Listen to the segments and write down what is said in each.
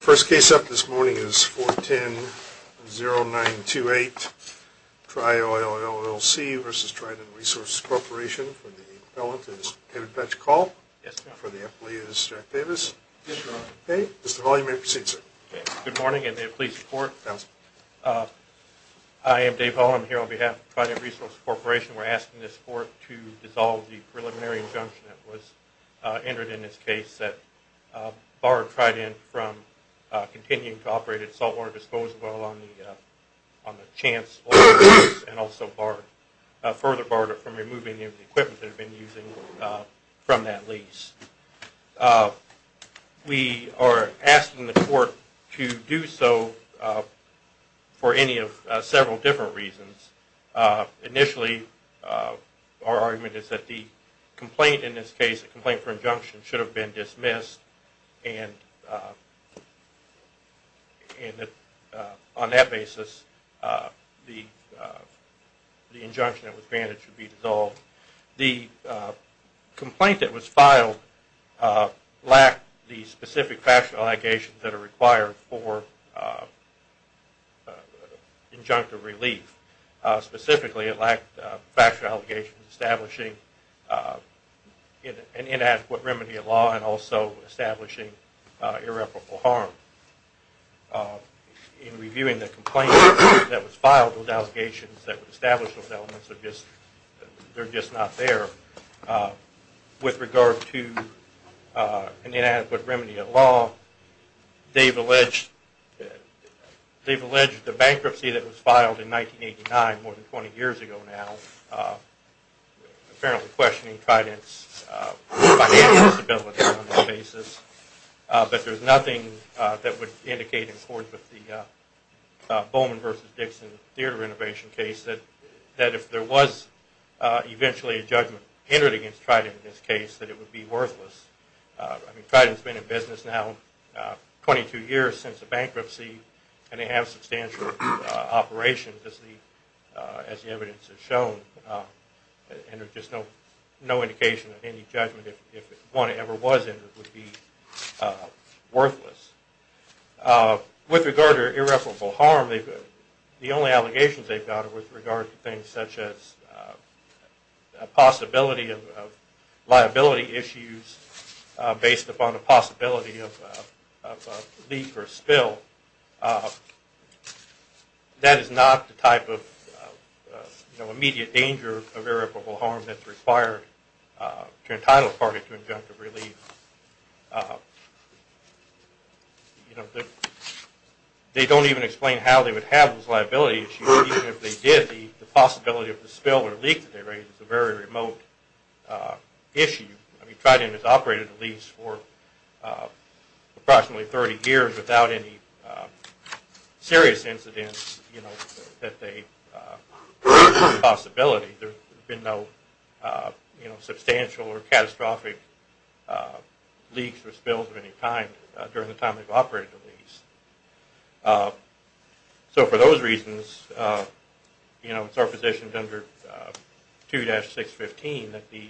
First case up this morning is 410-0928, Tri-Oil LLC v. Trident Resources Corporation. For the appellant, it is David Petchkall. Yes, sir. For the appellee, it is Jack Davis. Yes, sir. Okay. Mr. Valle, you may proceed, sir. Okay. Good morning, and may it please the Court? Yes, sir. I am Dave Valle. I'm here on behalf of Trident Resources Corporation. We're asking this Court to dissolve the preliminary injunction that was entered in this case that barred Trident from continuing to operate its saltwater disposal on the Chance Oil Lease and also further barred it from removing any of the equipment it had been using from that lease. We are asking the Court to do so for any of several different reasons. Initially, our argument is that the complaint in this case, the complaint for injunction, should have been dismissed, and on that basis, the injunction that was banned should be dissolved. The complaint that was filed lacked the specific factual allegations that are required for injunctive relief. Specifically, it lacked factual allegations establishing an inadequate remedy of law and also establishing irreparable harm. In reviewing the complaint that was filed with allegations that established those elements, they're just not there. With regard to an inadequate remedy of law, they've alleged the bankruptcy that was filed in 1989, more than 20 years ago now, apparently questioning Trident's financial stability on this basis, but there's nothing that would indicate in accordance with the Bowman v. Dixon theater renovation case that if there was eventually a judgment entered against Trident in this case, that it would be worthless. Trident's been in business now 22 years since the bankruptcy and they have substantial operations, as the evidence has shown, and there's just no indication that any judgment, if one ever was entered, would be worthless. With regard to irreparable harm, the only allegations they've got are with regard to things such as a possibility of liability issues based upon a possibility of a leak or spill. That is not the type of immediate danger of irreparable harm that's required to entitle a party to injunctive relief. They don't even explain how they would have those liability issues even if they did, the possibility of a spill or leak that they raised is a very remote issue. Trident has operated a lease for approximately 30 years without any serious incidents that they've seen a possibility. There's been no substantial or catastrophic leaks or spills of any kind during the time they've operated the lease. So for those reasons, it's our position under 2-615 that the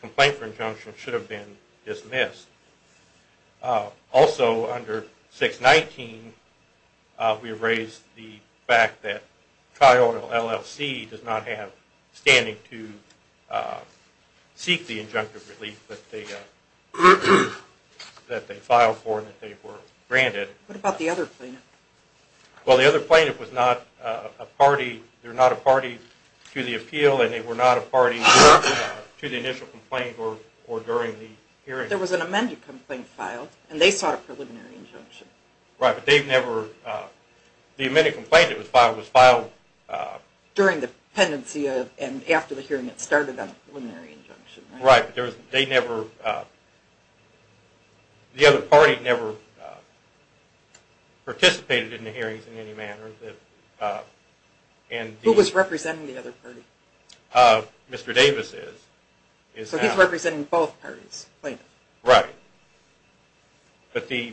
complaint for injunction should have been dismissed. Also, under 619, we've raised the fact that TriOil LLC does not have standing to seek the injunctive relief that they filed for and that they were granted. What about the other plaintiff? The other plaintiff was not a party to the appeal and they were not a party to the initial complaint or during the hearing. There was an amended complaint filed and they sought a preliminary injunction. Right, but the amended complaint that was filed was filed... During the pendency and after the hearing that started on the preliminary injunction. Right, but the other party never participated in the hearings in any manner. Who was representing the other party? Mr. Davis is. So he's representing both parties? Right. But the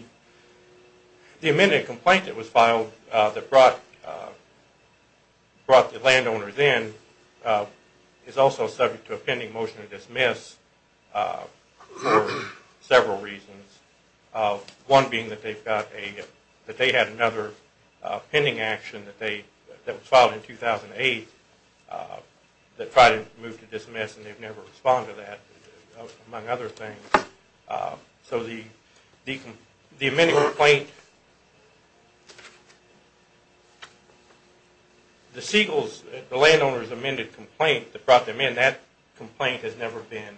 amended complaint that was filed that brought the landowners in is also subject to a pending motion to dismiss for several reasons. One being that they had another pending action that was filed in 2008 among other things. So the amended complaint... The landowners amended complaint that brought them in that complaint has never been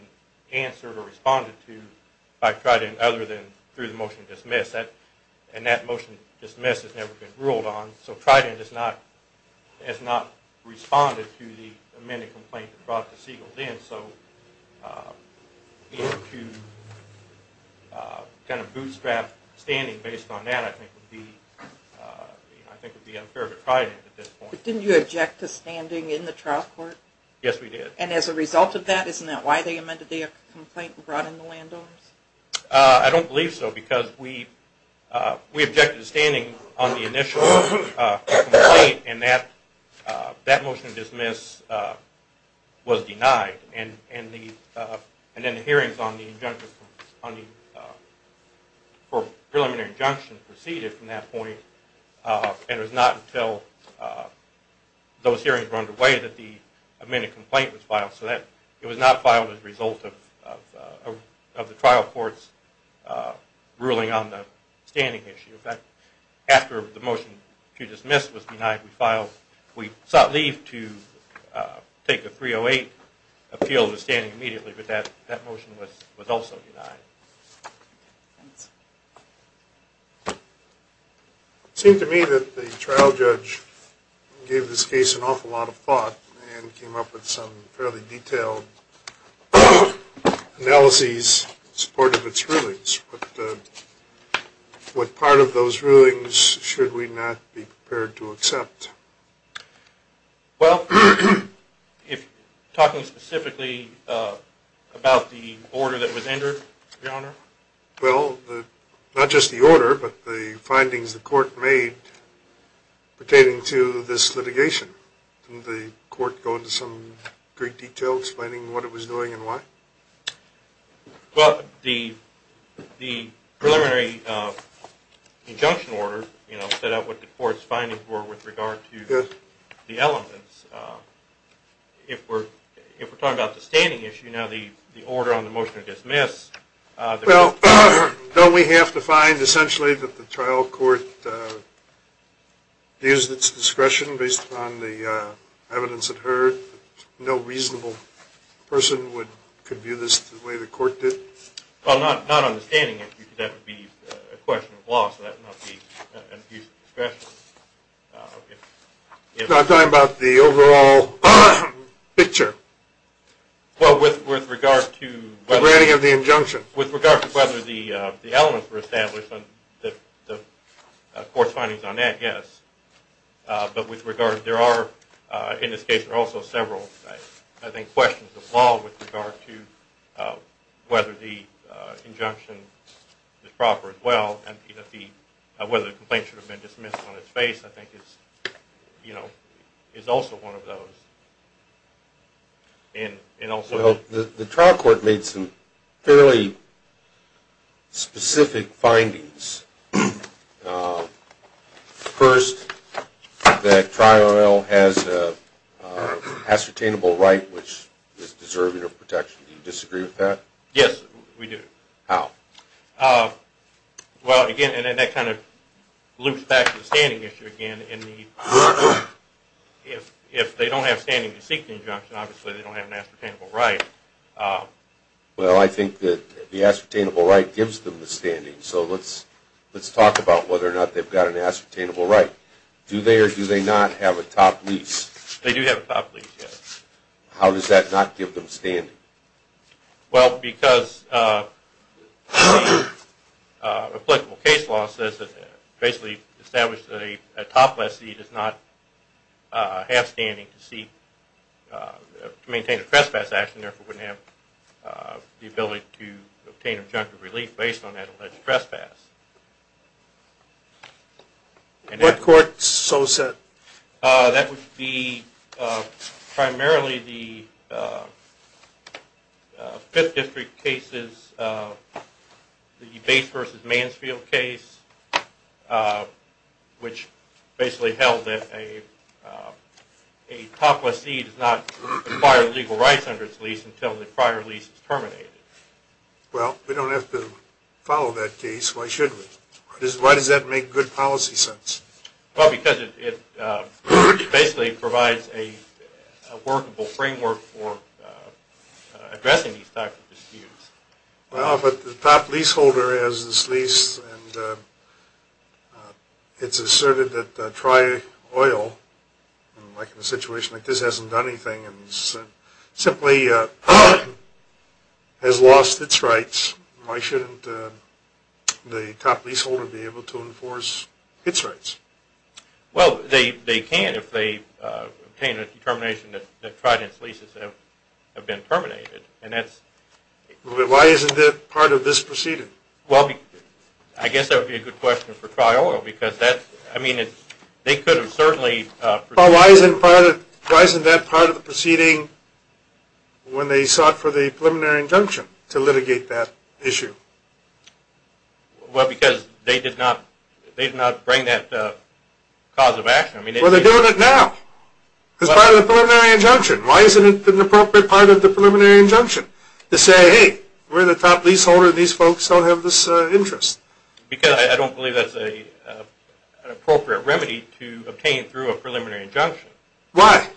answered or responded to by Trident other than through the motion to dismiss. And that motion to dismiss has never been ruled on. So Trident has not responded to the amended complaint that brought the seagulls in. So to bootstrap standing based on that I think would be unfair to Trident at this point. But didn't you object to standing in the trial court? Yes we did. And as a result of that, isn't that why they amended the complaint and brought in the landowners? I don't believe so because we objected to standing on the initial complaint and that motion to dismiss was denied. And then the hearings on the preliminary injunction proceeded from that point and it was not until those hearings were underway that the amended complaint was filed. So it was not filed as a result of the trial court's ruling on the standing issue. In fact, after the motion to dismiss was denied we sought leave to take a 308 appeal to standing immediately but that motion was also denied. It seemed to me that the trial judge gave this case an awful lot of thought and came up with some fairly detailed analyses in support of its rulings. What part of those rulings should we not be prepared to accept? Talking specifically about the order that was entered, Your Honor? Well, not just the order but the findings the court made pertaining to this litigation. Didn't the court go into some great detail explaining what it was doing and why? Well, the preliminary injunction order set out what the court's findings were with regard to the elements. If we're talking about the standing issue now the order on the motion to dismiss... Well, don't we have to find essentially that the trial court used its discretion based upon the evidence it heard? No reasonable person could view this the way the court did? Well, not understanding it because that would be a question of law so that would not be an abuse of discretion. I'm talking about the overall picture. Well, with regard to... The planning of the injunction. With regard to whether the elements were established the court's findings on that, yes. But with regard... In this case there are also several, I think, questions of law with regard to whether the injunction is proper as well and whether the complaint should have been dismissed on its face I think is also one of those. The trial court made some fairly specific findings. First, that trial has an ascertainable right which is deserving of protection. Do you disagree with that? Yes, we do. How? Well, again, that kind of loops back to the standing issue again. If they don't have standing to seek the injunction obviously they don't have an ascertainable right. Well, I think that the ascertainable right gives them the standing. So let's talk about whether or not they've got an ascertainable right. Do they or do they not have a top lease? They do have a top lease, yes. How does that not give them standing? Well, because applicable case law says that basically establish that a top lessee does not have standing to seek... to maintain a trespass action and therefore wouldn't have the ability to obtain objective relief based on that alleged trespass. What court so said? That would be primarily the 5th District cases the Bates v. Mansfield case which basically held that a top lessee does not require legal rights under its lease until the prior lease is terminated. Well, we don't have to follow that case. Why should we? Why does that make good policy sense? Well, because it basically provides a workable framework for addressing these types of disputes. Well, but the top leaseholder has this lease and it's asserted that tri-oil like in a situation like this hasn't done anything and simply has lost its rights why shouldn't the top leaseholder be able to enforce its rights? Well, they can if they obtain a determination that trident leases have been terminated and that's... Why isn't that part of this proceeding? Well, I guess that would be a good question for tri-oil because they could have certainly Why isn't that part of the proceeding when they sought for the preliminary injunction to litigate that issue? Well, because they did not bring that cause of action. Well, they're doing it now as part of the preliminary injunction. Why isn't it an appropriate part of the preliminary injunction to say, hey, we're the top leaseholder and these folks don't have this interest? Because I don't believe that's an appropriate remedy to obtain through a preliminary injunction. Why?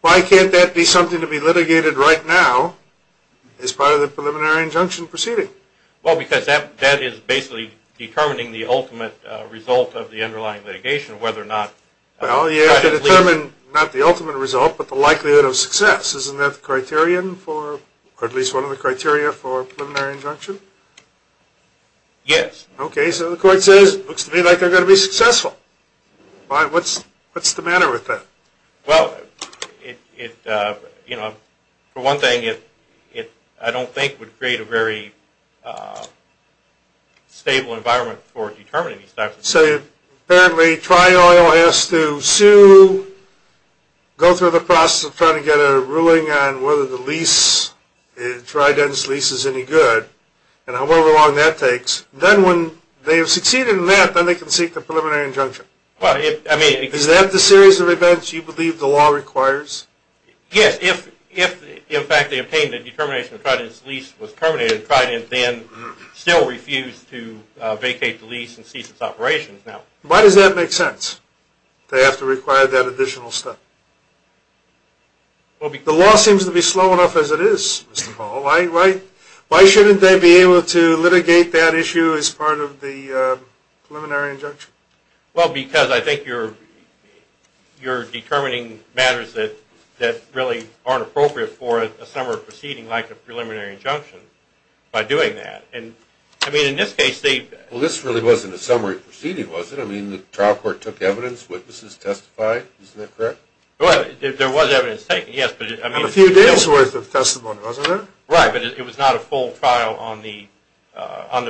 Why can't that be something to be litigated right now as part of the preliminary injunction proceeding? Well, because that is basically determining the ultimate result of the underlying litigation whether or not... Well, you have to determine not the ultimate result but the likelihood of success. Isn't that the criterion for, or at least one of the criteria for preliminary injunction? Yes. Okay, so the court says it looks to me like they're going to be successful. What's the matter with that? Well, you know, for one thing I don't think it would create a very stable environment for determining these types of cases. So, apparently Tri-Oil has to sue go through the process of trying to get a ruling on whether the lease, Trident's lease is any good and however long that takes then when they have succeeded in that then they can seek the preliminary injunction. Is that the series of events you believe the law requires? Yes, if in fact they obtained the determination that Trident's lease was terminated, Trident then still refused to vacate the lease and cease its operations. Why does that make sense? They have to require that additional step. The law seems to be slow enough as it is, Mr. Powell. Why shouldn't they be able to litigate that issue as part of the preliminary injunction? Well, because I think you're determining matters that really aren't appropriate for a summary proceeding like a preliminary injunction by doing that. In this case they... Well, this really wasn't a summary proceeding, was it? The trial court took evidence, witnesses testified? Isn't that correct? There was evidence taken, yes. And a few days worth of testimony, wasn't there? Right, but it was not a full trial on the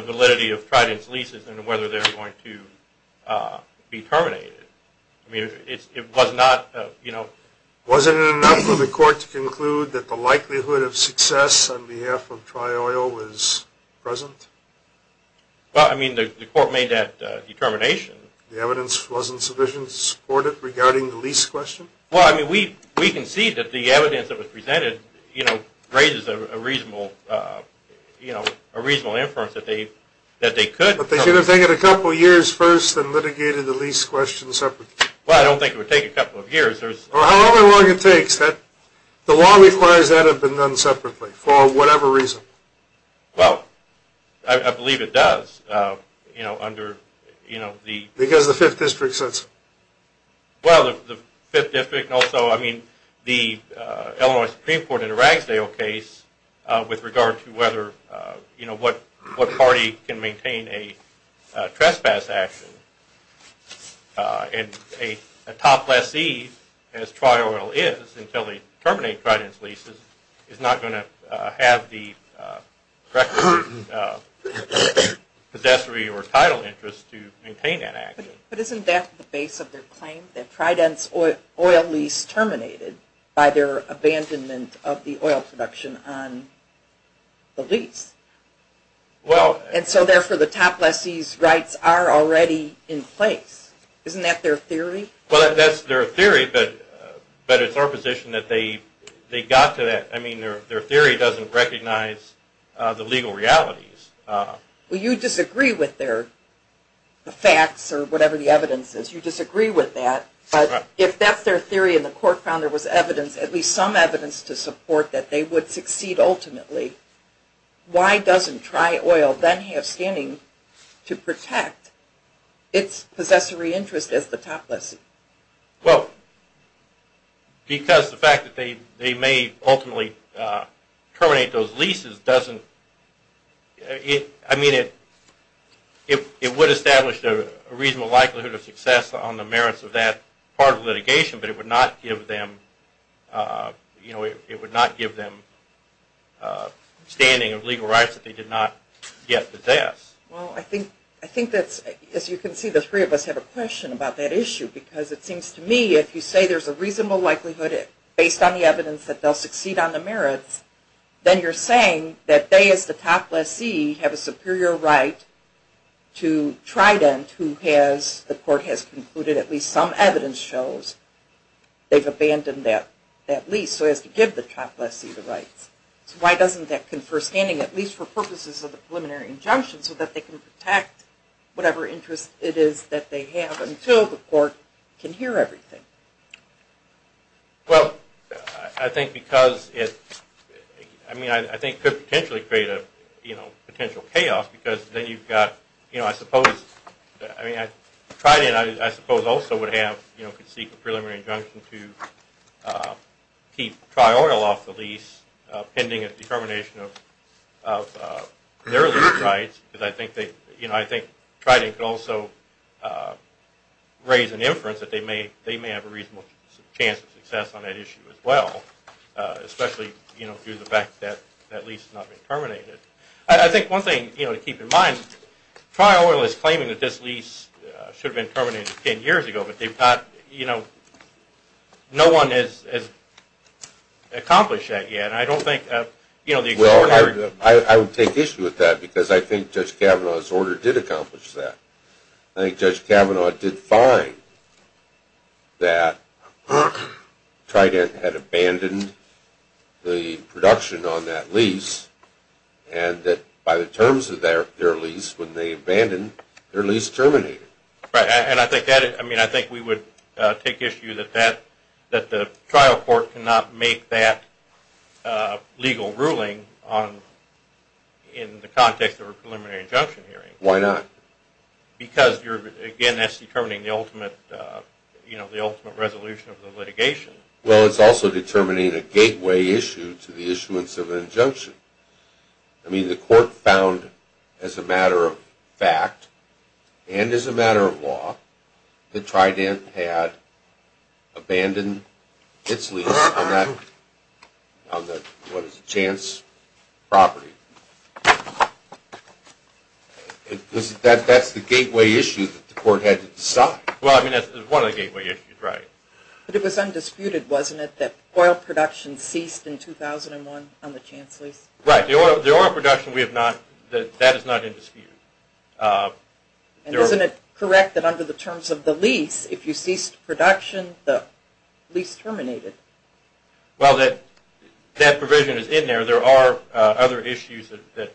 validity of Trident's leases and whether they're going to be terminated. I mean, it was not, you know... Wasn't it enough for the court to conclude that the likelihood of success on behalf of Tri-Oil was present? Well, I mean the court made that determination. The evidence wasn't sufficient to support it regarding the lease question? Well, I mean, we can see that the evidence that was presented, you know, raises a reasonable inference that they could... But they should have taken a couple years first and litigated the lease question separately. Well, I don't think it would take a couple of years. Well, however long it takes, the law requires that it be done separately for whatever reason. Well, I believe it does under, you know, the... Because the 5th District says so. Well, the 5th District and also, I mean, the Illinois Supreme Court in the Ragsdale case with regard to whether you know, what party can maintain a trespass action and a top lessee, as Tri-Oil is until they terminate Trident's leases is not going to have the possessory or title interest to maintain that action. But isn't that the base of their claim that Trident's oil lease terminated by their abandonment of the oil production on the lease? Well... And so therefore the top lessee's rights are already in place. Isn't that their theory? Well, that's their theory, but it's our position that they got to that... I mean, their theory doesn't recognize the legal realities. Well, you disagree with the facts or whatever the evidence is. You disagree with that. But if that's their theory and the court found there was evidence, at least some evidence to support that they would succeed ultimately, why doesn't Tri-Oil then have standing to protect its possessory interest as the top lessee? Well, because the fact that they may ultimately terminate those leases doesn't... I mean, it would establish a reasonable likelihood of success on the merits of that part of litigation, but it would not give them it would not give them standing of legal rights that they did not yet possess. Well, I think that's as you can see, the three of us have a question about that issue because it seems to me if you say there's a reasonable likelihood based on the evidence that they'll succeed on the merits then you're saying that they as the top lessee have a superior right to Trident who has the court has concluded at least some evidence shows they've abandoned that lease so as to give the top lessee the rights. Why doesn't that confer standing at least for purposes of the preliminary injunction so that they can protect whatever interest it is that they have until the court can hear everything? Well, I think because it I mean I think it could potentially create a potential chaos because then you've got I suppose Trident I suppose also would have could seek a preliminary injunction to keep Tri-Oil off the lease pending a determination of their lease rights because I think Trident could also raise an inference that they may have a reasonable chance of success on that issue as well especially due to the fact that lease has not been terminated. I think one thing to keep in mind Tri-Oil is claiming that this lease should have been terminated 10 years ago but they've not no one has accomplished that yet and I don't think I would take issue with that because I think Judge Kavanaugh's order did accomplish that. I think Judge Kavanaugh did find that Trident had abandoned the production on that lease and that by the terms of their lease when they abandoned their lease terminated. Right and I think that I mean I think we would take issue that that the trial court cannot make that legal ruling in the context of a preliminary injunction hearing. Why not? Because you're again that's determining the ultimate you know the ultimate resolution of the litigation. Well it's also determining a gateway issue to the issuance of an injunction. I mean the court found as a matter of fact and as a matter of law that Trident had abandoned its lease on that what is it? Chance property. That's the gateway issue that the court had to decide. Well I mean that's one of the gateway issues. But it was undisputed wasn't it that oil production ceased in 2001 on the Chance lease? Right the oil production we have not that is not in dispute. And isn't it correct that under the terms of the lease if you ceased production the lease terminated? Well that provision is in there there are other issues that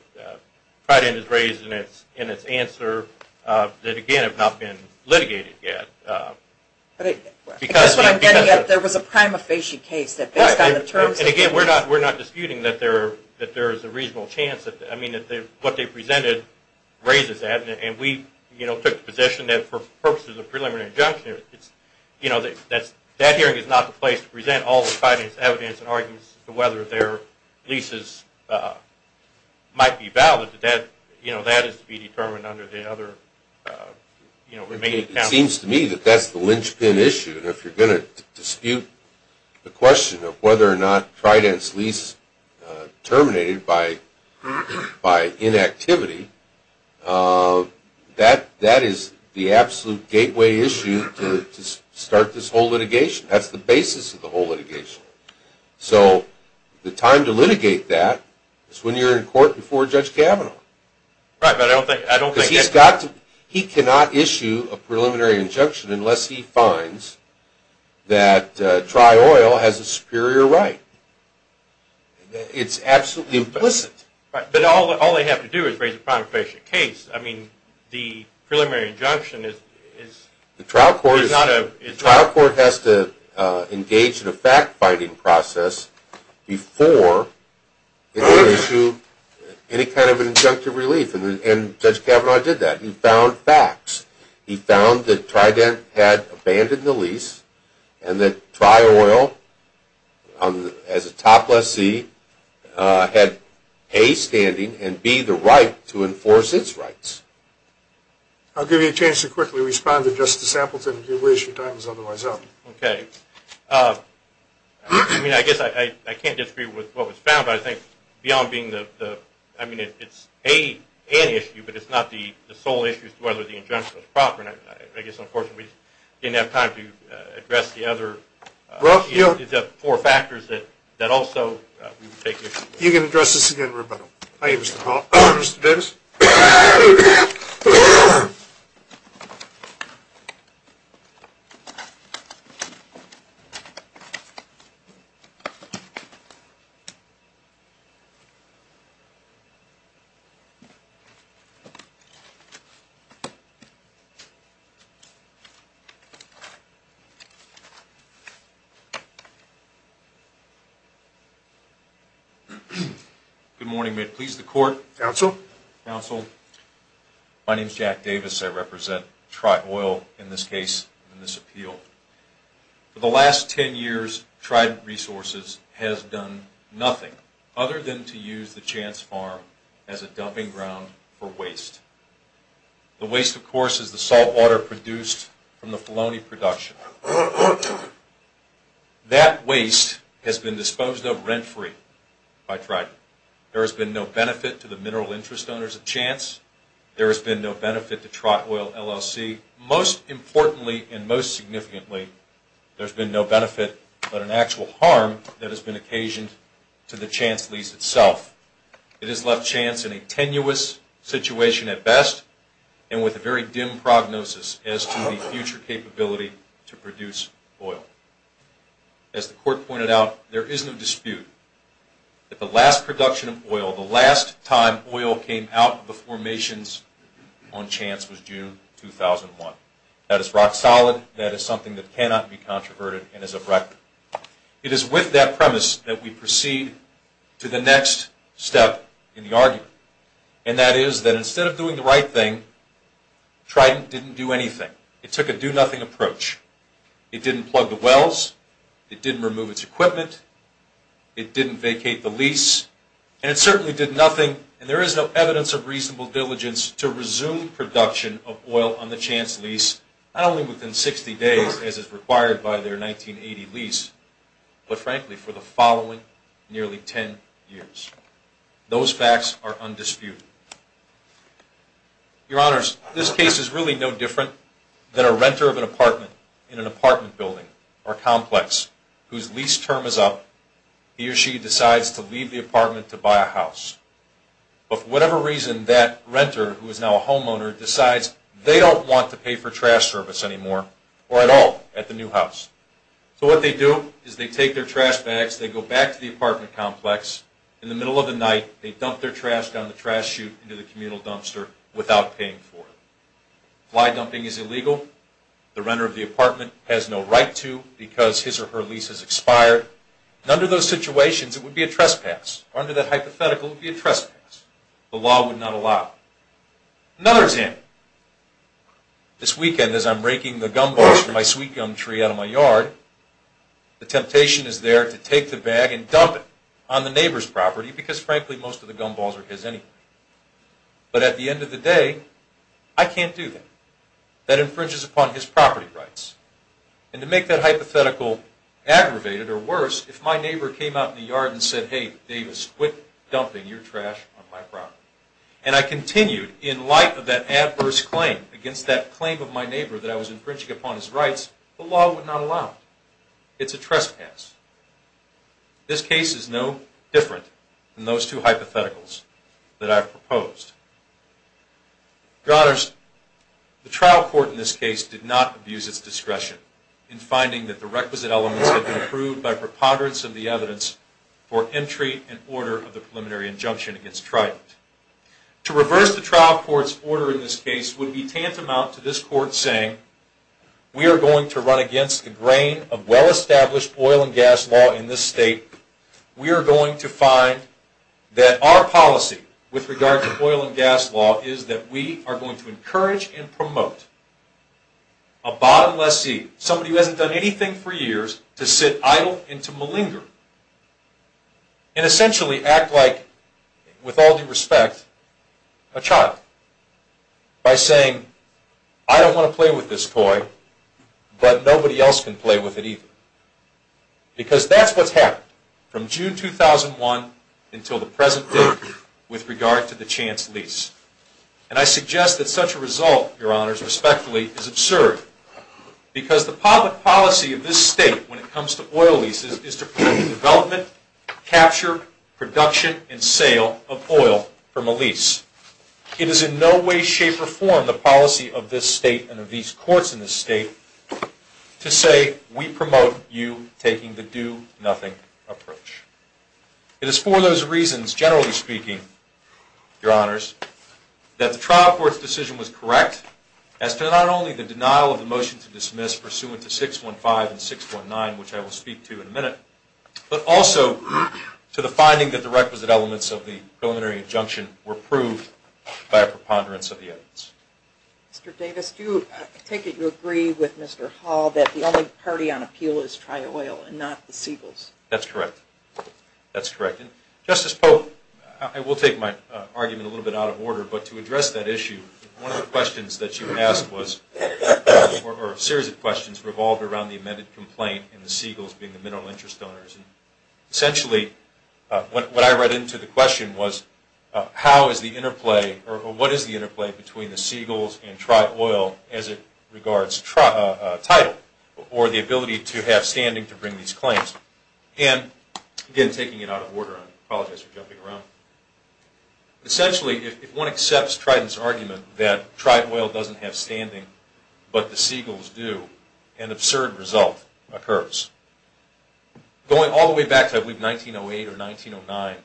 Trident has raised in its answer that again have not been litigated yet. I guess what I'm getting at there was a prima facie case that based on the terms And again we're not disputing that there is a reasonable chance what they presented raises that and we took the position that for purposes of preliminary injunction that hearing is not the place to present all the evidence and arguments as to whether their leases might be valid that is to be determined under the other It seems to me that that's the linchpin issue and if you're going to dispute the question of whether or not Trident's lease terminated by inactivity that is the absolute gateway issue to start this whole litigation. That's the basis of the whole litigation. So the time to litigate that is when you're in court before Judge Kavanaugh Right, but I don't think he cannot issue a preliminary injunction unless he finds that Tri Oil has a superior right. It's absolutely implicit But all they have to do is raise a prima facie case. I mean the preliminary injunction The trial court has to engage in a fact-finding process before it can issue any kind of injunctive relief and Judge Kavanaugh did that. He found facts He found that Trident had abandoned the lease and that Tri Oil as a top lessee had A standing and B the right to enforce its rights I'll give you a chance to quickly respond to Justice Appleton if your time is otherwise up Okay I mean I guess I can't disagree with what was found but I think beyond being the, I mean it's an issue but it's not the sole issue as to whether the injunction was proper and I guess unfortunately we didn't have time to address the other four factors that also we would take issue with You can address this again Roberto Thank you Mr. Davis Good morning May it please the court Counsel counsel My name is Jack Davis. I represent try oil in this case in this appeal For the last 10 years tried resources has done nothing other than to use the chance farm as a dumping ground for waste The waste of course is the saltwater produced from the Filoni production That Waste has been disposed of rent-free By trying there has been no benefit to the mineral interest owners a chance There has been no benefit to try oil LLC most importantly and most significantly There's been no benefit, but an actual harm that has been occasioned to the chance lease itself It has left chance in a tenuous situation at best and with a very dim prognosis as to the future capability to produce oil as The court pointed out there is no dispute That the last production of oil the last time oil came out of the formations on chance was June 2001 that is rock-solid that is something that cannot be controverted and is a wreck It is with that premise that we proceed to the next step in the argument And that is that instead of doing the right thing? Trident didn't do anything it took a do-nothing approach It didn't plug the wells it didn't remove its equipment It didn't vacate the lease and it certainly did nothing and there is no evidence of reasonable diligence to resume Production of oil on the chance lease not only within 60 days as is required by their 1980 lease But frankly for the following nearly 10 years Those facts are undisputed Your honors this case is really no different than a renter of an apartment in an apartment building or Complex whose lease term is up. He or she decides to leave the apartment to buy a house But whatever reason that renter who is now a homeowner decides They don't want to pay for trash service anymore or at all at the new house So what they do is they take their trash bags They go back to the apartment complex in the middle of the night They dump their trash down the trash chute into the communal dumpster without paying for it Why dumping is illegal the renter of the apartment has no right to because his or her lease has expired Under those situations it would be a trespass under that hypothetical be a trespass the law would not allow another example This weekend as I'm raking the gumballs for my sweet gum tree out of my yard The temptation is there to take the bag and dump it on the neighbor's property because frankly most of the gumballs are his anyway But at the end of the day I can't do that that infringes upon his property rights and to make that hypothetical Aggravated or worse if my neighbor came out in the yard and said hey Davis quit Your trash on my property and I continued in light of that adverse claim against that claim of my neighbor that I was infringing upon His rights the law would not allow It's a trespass This case is no different than those two hypotheticals that I've proposed The honors The trial court in this case did not abuse its discretion in finding that the requisite elements have been approved by preponderance of the evidence For entry and order of the preliminary injunction against trial To reverse the trial courts order in this case would be tantamount to this court saying We are going to run against the grain of well-established oil and gas law in this state We are going to find that our policy with regard to oil and gas law is that we are going to encourage and promote a And essentially act like with all due respect a child By saying I don't want to play with this toy But nobody else can play with it either Because that's what's happened from June 2001 Until the present work with regard to the chance lease and I suggest that such a result your honors respectfully is absurd Because the public policy of this state when it comes to oil leases is to prevent development capture production and sale of oil from a lease It is in no way shape or form the policy of this state and of these courts in the state To say we promote you taking the do-nothing approach It is for those reasons generally speaking your honors That the trial court's decision was correct as to not only the denial of the motion to dismiss pursuant to 615 and 619 Which I will speak to in a minute, but also To the finding that the requisite elements of the preliminary injunction were proved by a preponderance of the evidence Mr.. Davis do take it you agree with mr. Hall that the only party on appeal is try oil and not the seagulls that's correct That's correct, and justice Pope. I will take my argument a little bit out of order, but to address that issue one of the questions that you asked was Or a series of questions revolved around the amended complaint and the seagulls being the mineral interest donors essentially What I read into the question was How is the interplay or what is the interplay between the seagulls and try oil as it regards? title or the ability to have standing to bring these claims and Again taking it out of order. I apologize for jumping around Essentially if one accepts Triton's argument that try oil doesn't have standing, but the seagulls do an absurd result occurs Going all the way back to I believe 1908 or 1909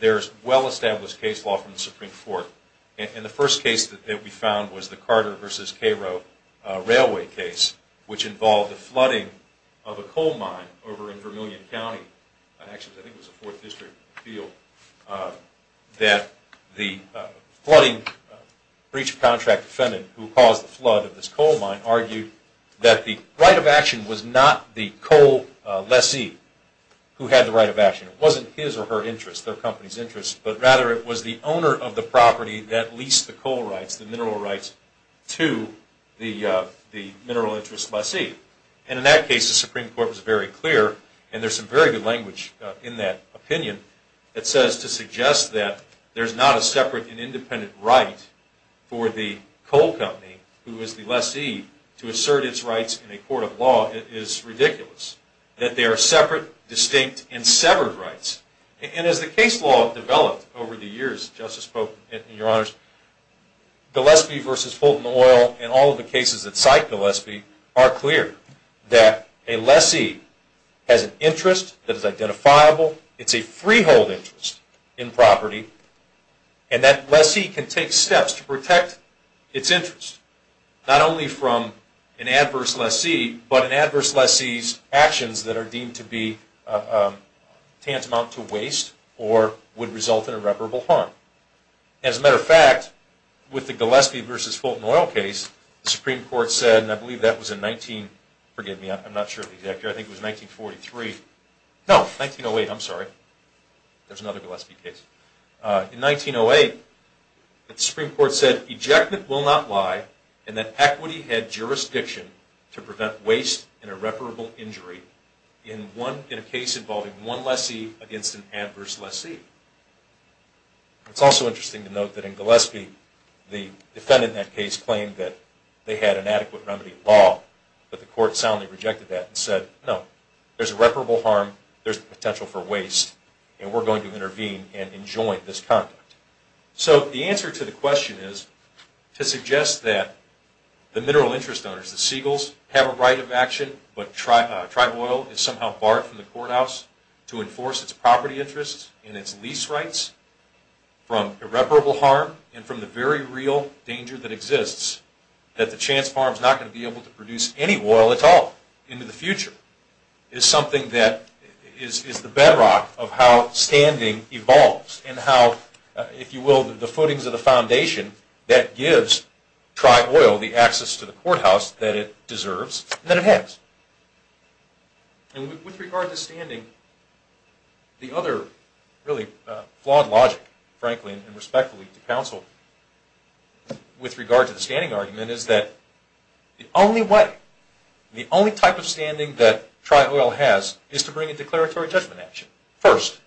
There's well-established case law from the Supreme Court and the first case that we found was the Carter versus Cairo Railway case which involved the flooding of a coal mine over in Vermillion County I think it was a fourth district field that the flooding Breach of contract defendant who caused the flood of this coal mine argued that the right of action was not the coal lessee Who had the right of action it wasn't his or her interest their company's interest? but rather it was the owner of the property that leased the coal rights the mineral rights to The the mineral interest lessee and in that case the Supreme Court was very clear And there's some very good language in that opinion that says to suggest that there's not a separate and independent right For the coal company who is the lessee to assert its rights in a court of law? It is ridiculous that they are separate distinct and severed rights And as the case law developed over the years justice spoke in your honors The lessee versus Fulton oil and all of the cases that cite the lessee are clear that a lessee Has an interest that is identifiable. It's a freehold interest in property and That lessee can take steps to protect its interest not only from an adverse lessee but an adverse lessee's actions that are deemed to be Tantamount to waste or would result in irreparable harm as a matter of fact With the Gillespie versus Fulton oil case the Supreme Court said and I believe that was in 19 forgive me I'm not sure exactly. I think it was 1943 No, thank you. No wait. I'm sorry There's another Gillespie case in 1908 The Supreme Court said ejectment will not lie and that equity had jurisdiction To prevent waste and irreparable injury in one in a case involving one lessee against an adverse lessee It's also interesting to note that in Gillespie the defendant in that case claimed that they had an adequate remedy in law But the court soundly rejected that and said no there's irreparable harm There's potential for waste and we're going to intervene and enjoin this conduct so the answer to the question is to suggest that The mineral interest owners the seagulls have a right of action But tribe oil is somehow barred from the courthouse to enforce its property interests and its lease rights From irreparable harm and from the very real danger that exists That the chance farms not going to be able to produce any oil at all into the future is Something that is the bedrock of how standing evolves and how if you will the footings of the foundation that gives Try oil the access to the courthouse that it deserves that it has And with regard to standing The other really flawed logic Franklin and respectfully to counsel with regard to the standing argument is that The only way the only type of standing that try oil has is to bring a declaratory judgment action first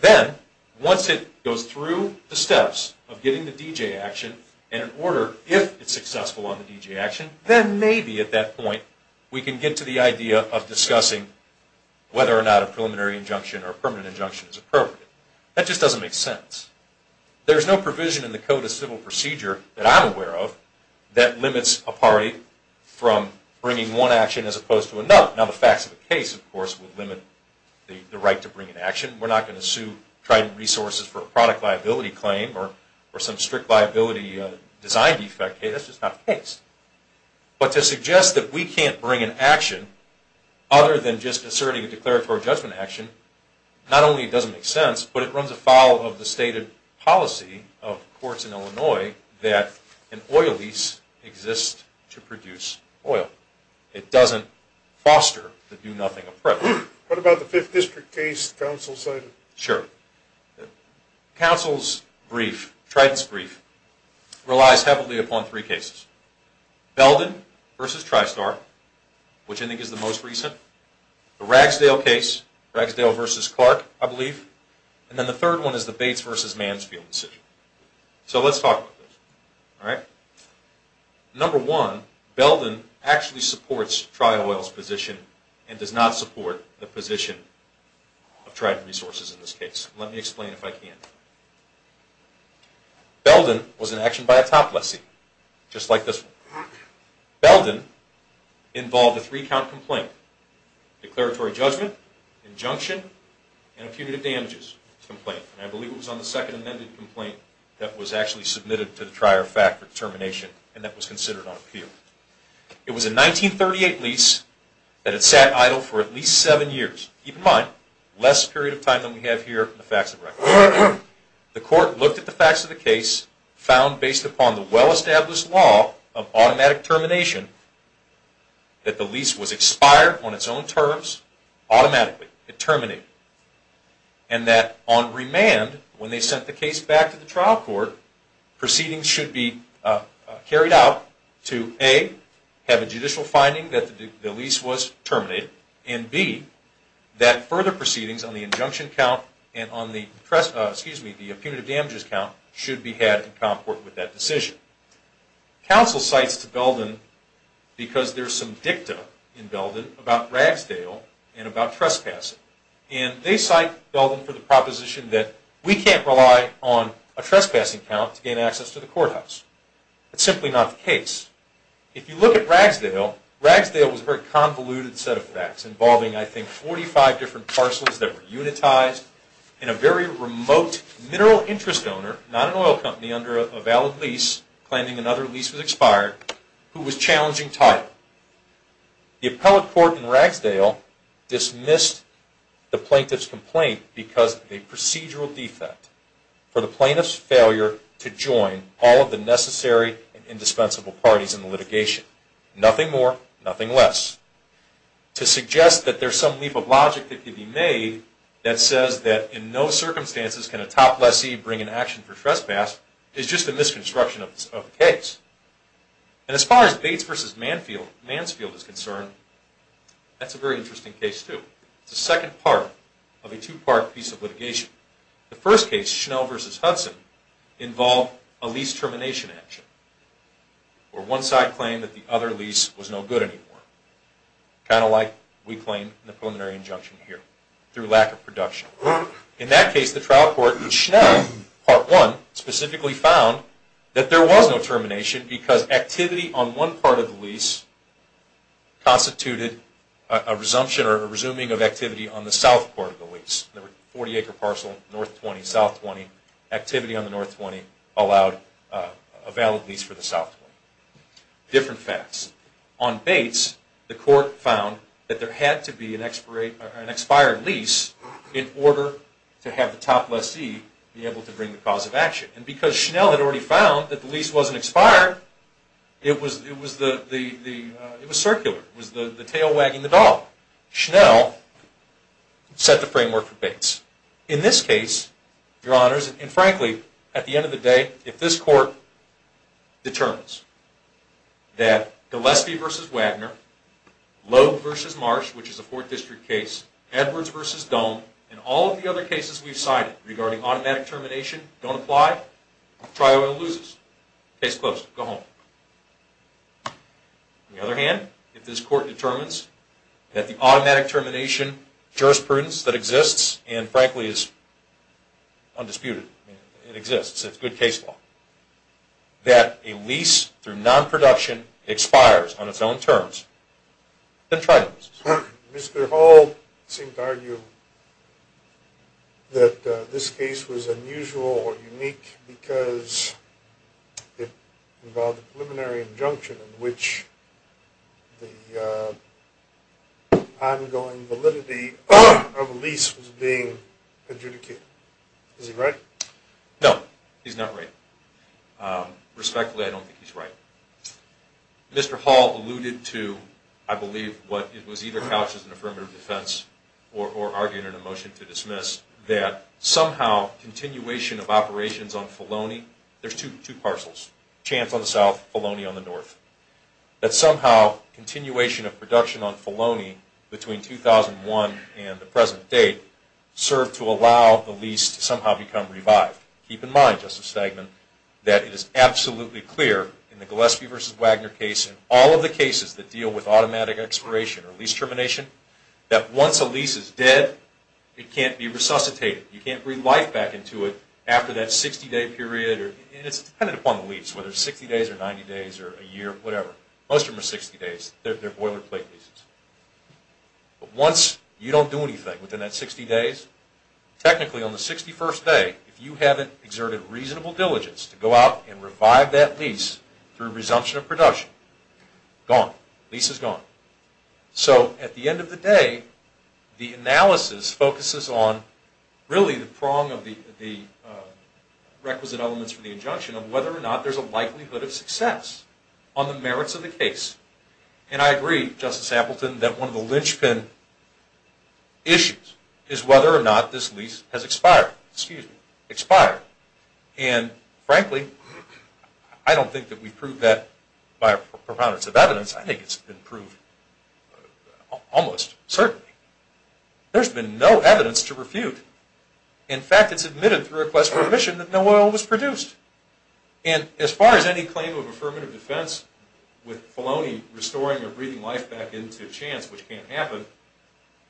Then once it goes through the steps of getting the DJ action and in order if it's successful on the DJ action Then maybe at that point we can get to the idea of discussing Whether or not a preliminary injunction or permanent injunction is appropriate that just doesn't make sense There's no provision in the code of civil procedure that I'm aware of that limits a party From bringing one action as opposed to another now the facts of the case of course would limit The right to bring an action We're not going to sue tried and resources for a product liability claim or or some strict liability design defect. Hey, that's just not the case But to suggest that we can't bring an action Other than just asserting a declaratory judgment action Not only it doesn't make sense, but it runs afoul of the stated policy of courts in Illinois that an oil lease Exists to produce oil it doesn't foster the do-nothing approach. What about the fifth district case? sure Council's brief Triton's brief relies heavily upon three cases Belden versus Tristar Which I think is the most recent the Ragsdale case Ragsdale versus Clark I believe and then the third one is the Bates versus Mansfield decision, so let's talk All right Number one Belden actually supports trial oils position and does not support the position Of tried and resources in this case let me explain if I can Belden was an action by a top lessee just like this Belden involved a three count complaint declaratory judgment Injunction and a punitive damages complaint I believe it was on the second amended complaint that was actually submitted to the trier fact for termination And that was considered on appeal It was a 1938 lease That had sat idle for at least seven years keep in mind less period of time than we have here the facts of record The court looked at the facts of the case found based upon the well-established law of automatic termination That the lease was expired on its own terms Automatically it terminated and That on remand when they sent the case back to the trial court Proceedings should be Carried out to a have a judicial finding that the lease was terminated and be That further proceedings on the injunction count and on the press excuse me the punitive damages count should be had in comport with that decision counsel cites to Belden Because there's some dicta in Belden about Ragsdale and about trespassing and they cite Belden for the proposition that We can't rely on a trespassing count to gain access to the courthouse It's simply not the case If you look at Ragsdale Ragsdale was very convoluted set of facts involving I think 45 different parcels that were unitized in a very remote Mineral interest owner not an oil company under a valid lease planning another lease was expired who was challenging title the appellate court in Ragsdale dismissed the plaintiffs complaint because a procedural defect For the plaintiffs failure to join all of the necessary and indispensable parties in the litigation Nothing more nothing less To suggest that there's some leap of logic that could be made that says that in no circumstances Can a top lessee bring an action for trespass is just a misconstruction of the case And as far as Bates versus Manfield Mansfield is concerned That's a very interesting case to the second part of a two-part piece of litigation the first case Schnell versus Hudson involved a lease termination action Or one side claim that the other lease was no good anymore Kind of like we claim the preliminary injunction here through lack of production in that case the trial court in Schnell Part one specifically found that there was no termination because activity on one part of the lease Constituted a resumption or a resuming of activity on the south part of the lease the 40 acre parcel North 20 South 20 activity on the North 20 allowed a valid lease for the South Different facts on Bates the court found that there had to be an expirate an expired lease In order to have the top lessee be able to bring the cause of action and because Schnell had already found that the lease wasn't expired It was it was the the it was circular was the the tail wagging the dog Schnell Set the framework for Bates in this case your honors and frankly at the end of the day if this court Determines that Gillespie versus Wagner Lowe versus Marsh, which is a fourth district case Edwards versus dome and all of the other cases We've cited regarding automatic termination don't apply Try oil loses case close go home The other hand if this court determines that the automatic termination jurisprudence that exists and frankly is Undisputed it exists. It's good case law That a lease through non-production expires on its own terms the tridents Mr.. Hall seemed argue That this case was unusual or unique because it involved a preliminary injunction in which the Ongoing validity of a lease was being adjudicated is he right no he's not right Respectfully, I don't think he's right Mr.. Hall alluded to I believe what it was either couch as an affirmative defense or Arguing in a motion to dismiss that somehow Continuation of operations on Filoni there's two two parcels chance on the south Filoni on the north That somehow continuation of production on Filoni between 2001 and the present date Served to allow the least somehow become revived keep in mind just a segment that it is absolutely clear in the Gillespie vs Wagner case in all of the cases that deal with automatic expiration or lease termination that once a lease is dead It can't be resuscitated You can't breathe life back into it after that 60-day period or it's kind of upon the lease whether 60 days or 90 days or a Year, whatever most of them are 60 days. They're boilerplate pieces But once you don't do anything within that 60 days Technically on the 61st day if you haven't exerted reasonable diligence to go out and revive that lease through resumption of production Gone Lisa's gone so at the end of the day the analysis focuses on really the prong of the the requisite elements for the injunction of whether or not there's a likelihood of success on the merits of the case and I agree justice Appleton that one of the linchpin Issues is whether or not this lease has expired excuse me expired and Frankly, I don't think that we prove that by proponents of evidence. I think it's been proved Almost certainly There's been no evidence to refute in fact. It's admitted to request permission that no oil was produced And as far as any claim of affirmative defense with Filoni restoring a breathing life back into chance which can't happen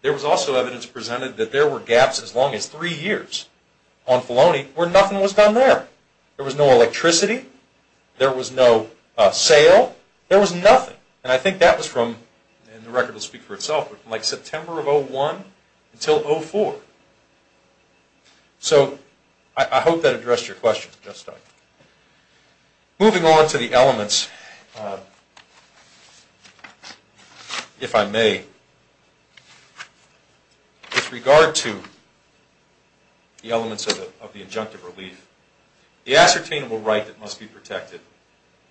There was also evidence presented that there were gaps as long as three years on Filoni where nothing was done there There was no electricity There was no sale there was nothing and I think that was from and the record will speak for itself But like September of oh one until oh four So I hope that addressed your question just I'm moving on to the elements If I may With regard to The elements of the of the injunctive relief the ascertainable right that must be protected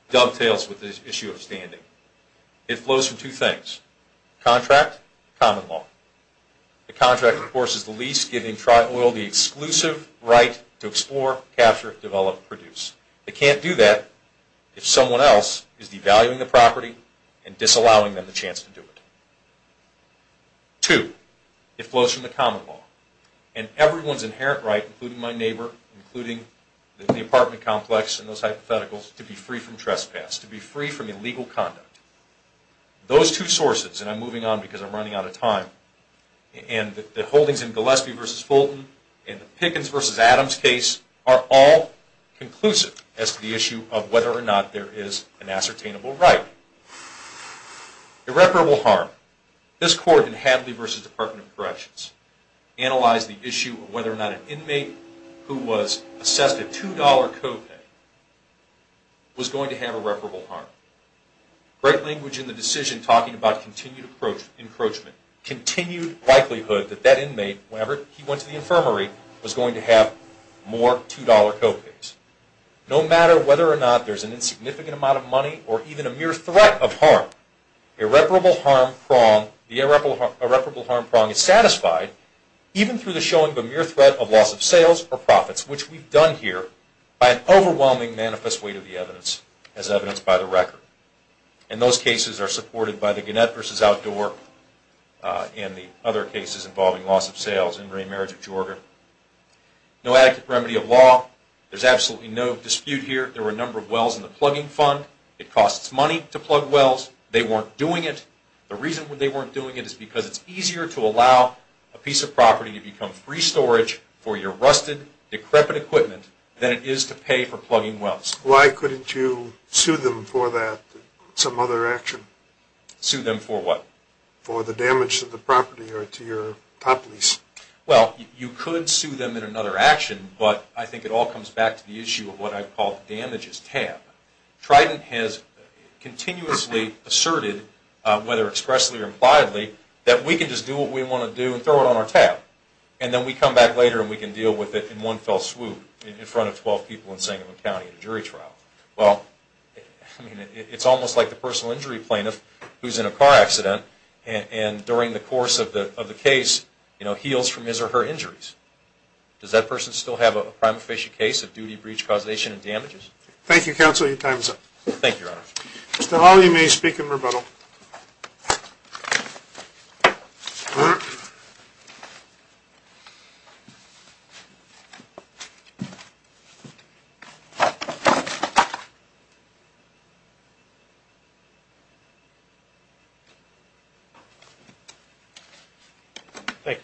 Dovetails with this issue of standing it flows from two things Contract common law The contract of course is the lease giving trial oil the exclusive right to explore capture develop produce They can't do that if someone else is devaluing the property and disallowing them the chance to do it to it flows from the common law and Everyone's inherent right including my neighbor including the apartment complex and those hypotheticals to be free from trespass to be free from illegal conduct Those two sources and I'm moving on because I'm running out of time And the holdings in Gillespie versus Fulton and the Pickens versus Adams case are all Conclusive as to the issue of whether or not there is an ascertainable, right? Irreparable harm this court in Hadley versus Department of Corrections Analyze the issue of whether or not an inmate who was assessed a $2.00 copay Was going to have irreparable harm Great language in the decision talking about continued approach encroachment Continued likelihood that that inmate whenever he went to the infirmary was going to have more $2.00 copays No matter whether or not there's an insignificant amount of money or even a mere threat of harm irreparable harm prong the Irreparable harm prong is satisfied even through the showing of a mere threat of loss of sales or profits Which we've done here by an overwhelming manifest weight of the evidence as evidenced by the record and Those cases are supported by the Gannett versus outdoor In the other cases involving loss of sales and remarriage of Georgia No active remedy of law. There's absolutely no dispute here. There were a number of wells in the plugging fund It costs money to plug wells. They weren't doing it The reason when they weren't doing it is because it's easier to allow a piece of property to become free storage for your rusted Decrepit equipment than it is to pay for plugging wells. Why couldn't you sue them for that some other action? Sue them for what for the damage to the property or to your top lease well You could sue them in another action, but I think it all comes back to the issue of what I've called damages tab Trident has Continuously asserted whether expressly or impliedly that we can just do what we want to do and throw it on our tab And then we come back later And we can deal with it in one fell swoop in front of 12 people in Sangamon County a jury trial well It's almost like the personal injury plaintiff who's in a car accident and and during the course of the of the case You know heals from his or her injuries Does that person still have a prime officiate case of duty breach causation and damages? Thank you counsel your time's up. Thank you Mr.. Holly may speak in rebuttal You Thank you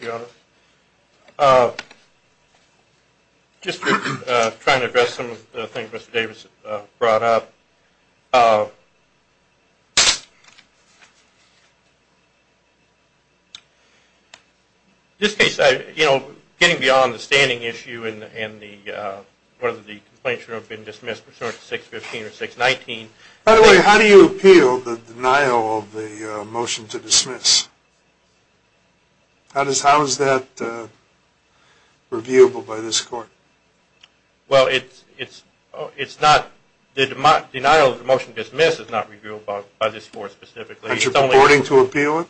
Just trying to address some of the things mr.. Davis brought up This Case I you know getting beyond the standing issue in and the Whether the complaint should have been dismissed for 615 or 619 by the way How do you appeal the denial of the motion to dismiss? How does how is that Reviewable by this court Well, it's it's oh, it's not the denial of the motion dismisses not review about by this for specifically It's only boarding to appeal it.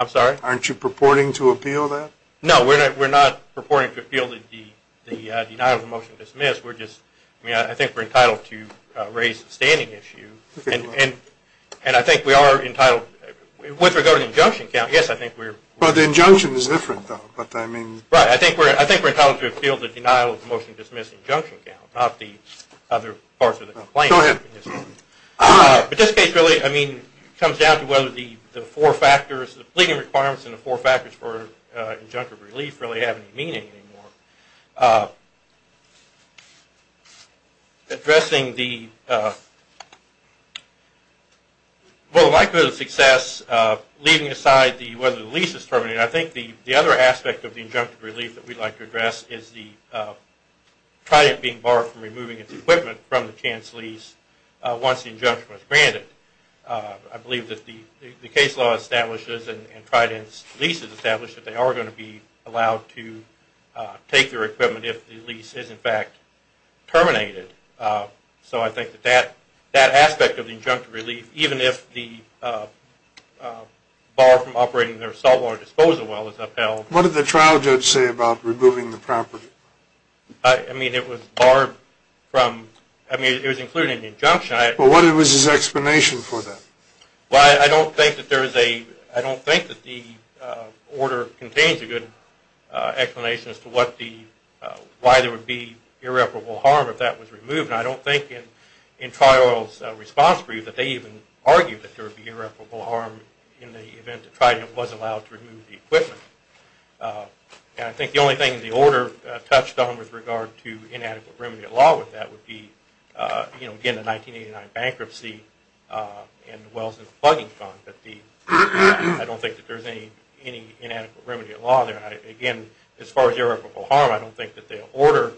I'm sorry aren't you purporting to appeal that no We're not we're not purporting to feel that the the denial of the motion dismissed We're just I mean, I think we're entitled to raise the standing issue and and and I think we are entitled With regard to the junction count yes, I think we're but the injunction is different, but I mean right I think we're I think we're telling to appeal the denial of motion dismissing junction count not the other parts of the complaint But this case really I mean comes down to whether the the four factors the pleading requirements in the four factors for Injunctive relief really have any meaning anymore Well likelihood of success Leaving aside the whether the lease is terminated. I think the the other aspect of the injunctive relief that we'd like to address is the Try it being barred from removing its equipment from the chance lease Once the injunction was granted I believe that the the case law establishes and tried and leases established that they are going to be allowed to Take their equipment if the lease is in fact terminated so I think that that that aspect of the injunctive relief even if the Bar from operating their saltwater disposal well as upheld what did the trial judge say about removing the property I? Mean it was barred from I mean it was including injunction. I what it was his explanation for them Well, I don't think that there is a I don't think that the order contains a good explanation as to what the Why there would be irreparable harm if that was removed And I don't think in in trial's response for you that they even argued that there would be irreparable harm In the event to try it was allowed to remove the equipment And I think the only thing the order touched on with regard to inadequate remedy at law with that would be You know again the 1989 bankruptcy And wells and plugging fun, but the I don't think that there's any any inadequate remedy at law there again as far as irreparable harm I don't think that the order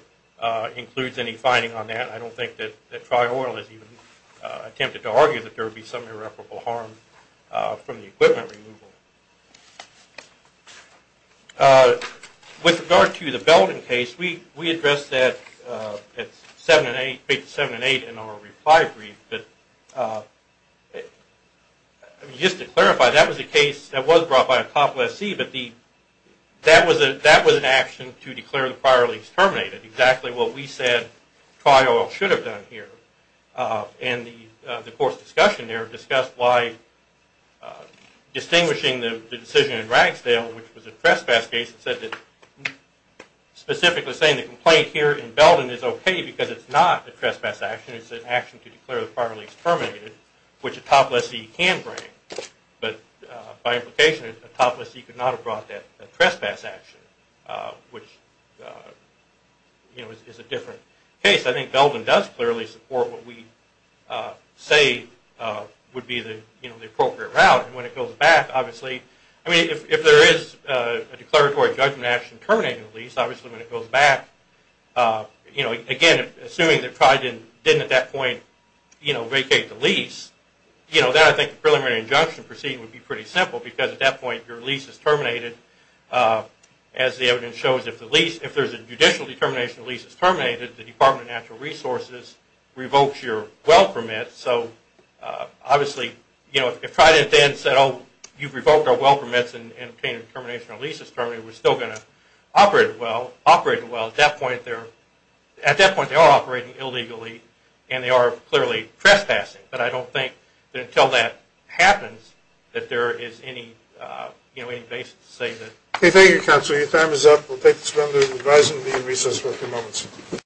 Includes any finding on that. I don't think that that trial has even attempted to argue that there would be some irreparable harm from the equipment removal With regard to the Belden case we we address that it's seven and eight eight seven and eight in our reply brief, but Just to clarify that was a case that was brought by a cop lessee That was a that was an action to declare the prior lease terminated exactly what we said trial should have done here and the course discussion there discussed why Distinguishing the decision in Ragsdale, which was a trespass case it said that Specifically saying the complaint here in Belden is okay, because it's not a trespass action It's an action to declare the prior lease terminated which a top lessee can bring But by implication a top lessee could not have brought that a trespass action which You know is a different case. I think Belden does clearly support what we Say would be the you know the appropriate route when it goes back obviously I mean if there is a declaratory judgment action terminating the lease obviously when it goes back You know again assuming that pride in didn't at that point you know vacate the lease You know that I think preliminary injunction proceeding would be pretty simple because at that point your lease is terminated As the evidence shows if the lease if there's a judicial determination at least it's terminated the Department of Natural Resources revokes your well permit so Obviously you know if tried it then said oh you've revoked our well permits and obtained a termination of leases terminated We're still going to operate well operating well at that point there at that point They are operating illegally, and they are clearly trespassing, but I don't think that until that happens that there is any You know any basis to say that okay? Thank you counsel your time is up. We'll take this round of advising the recess for a few moments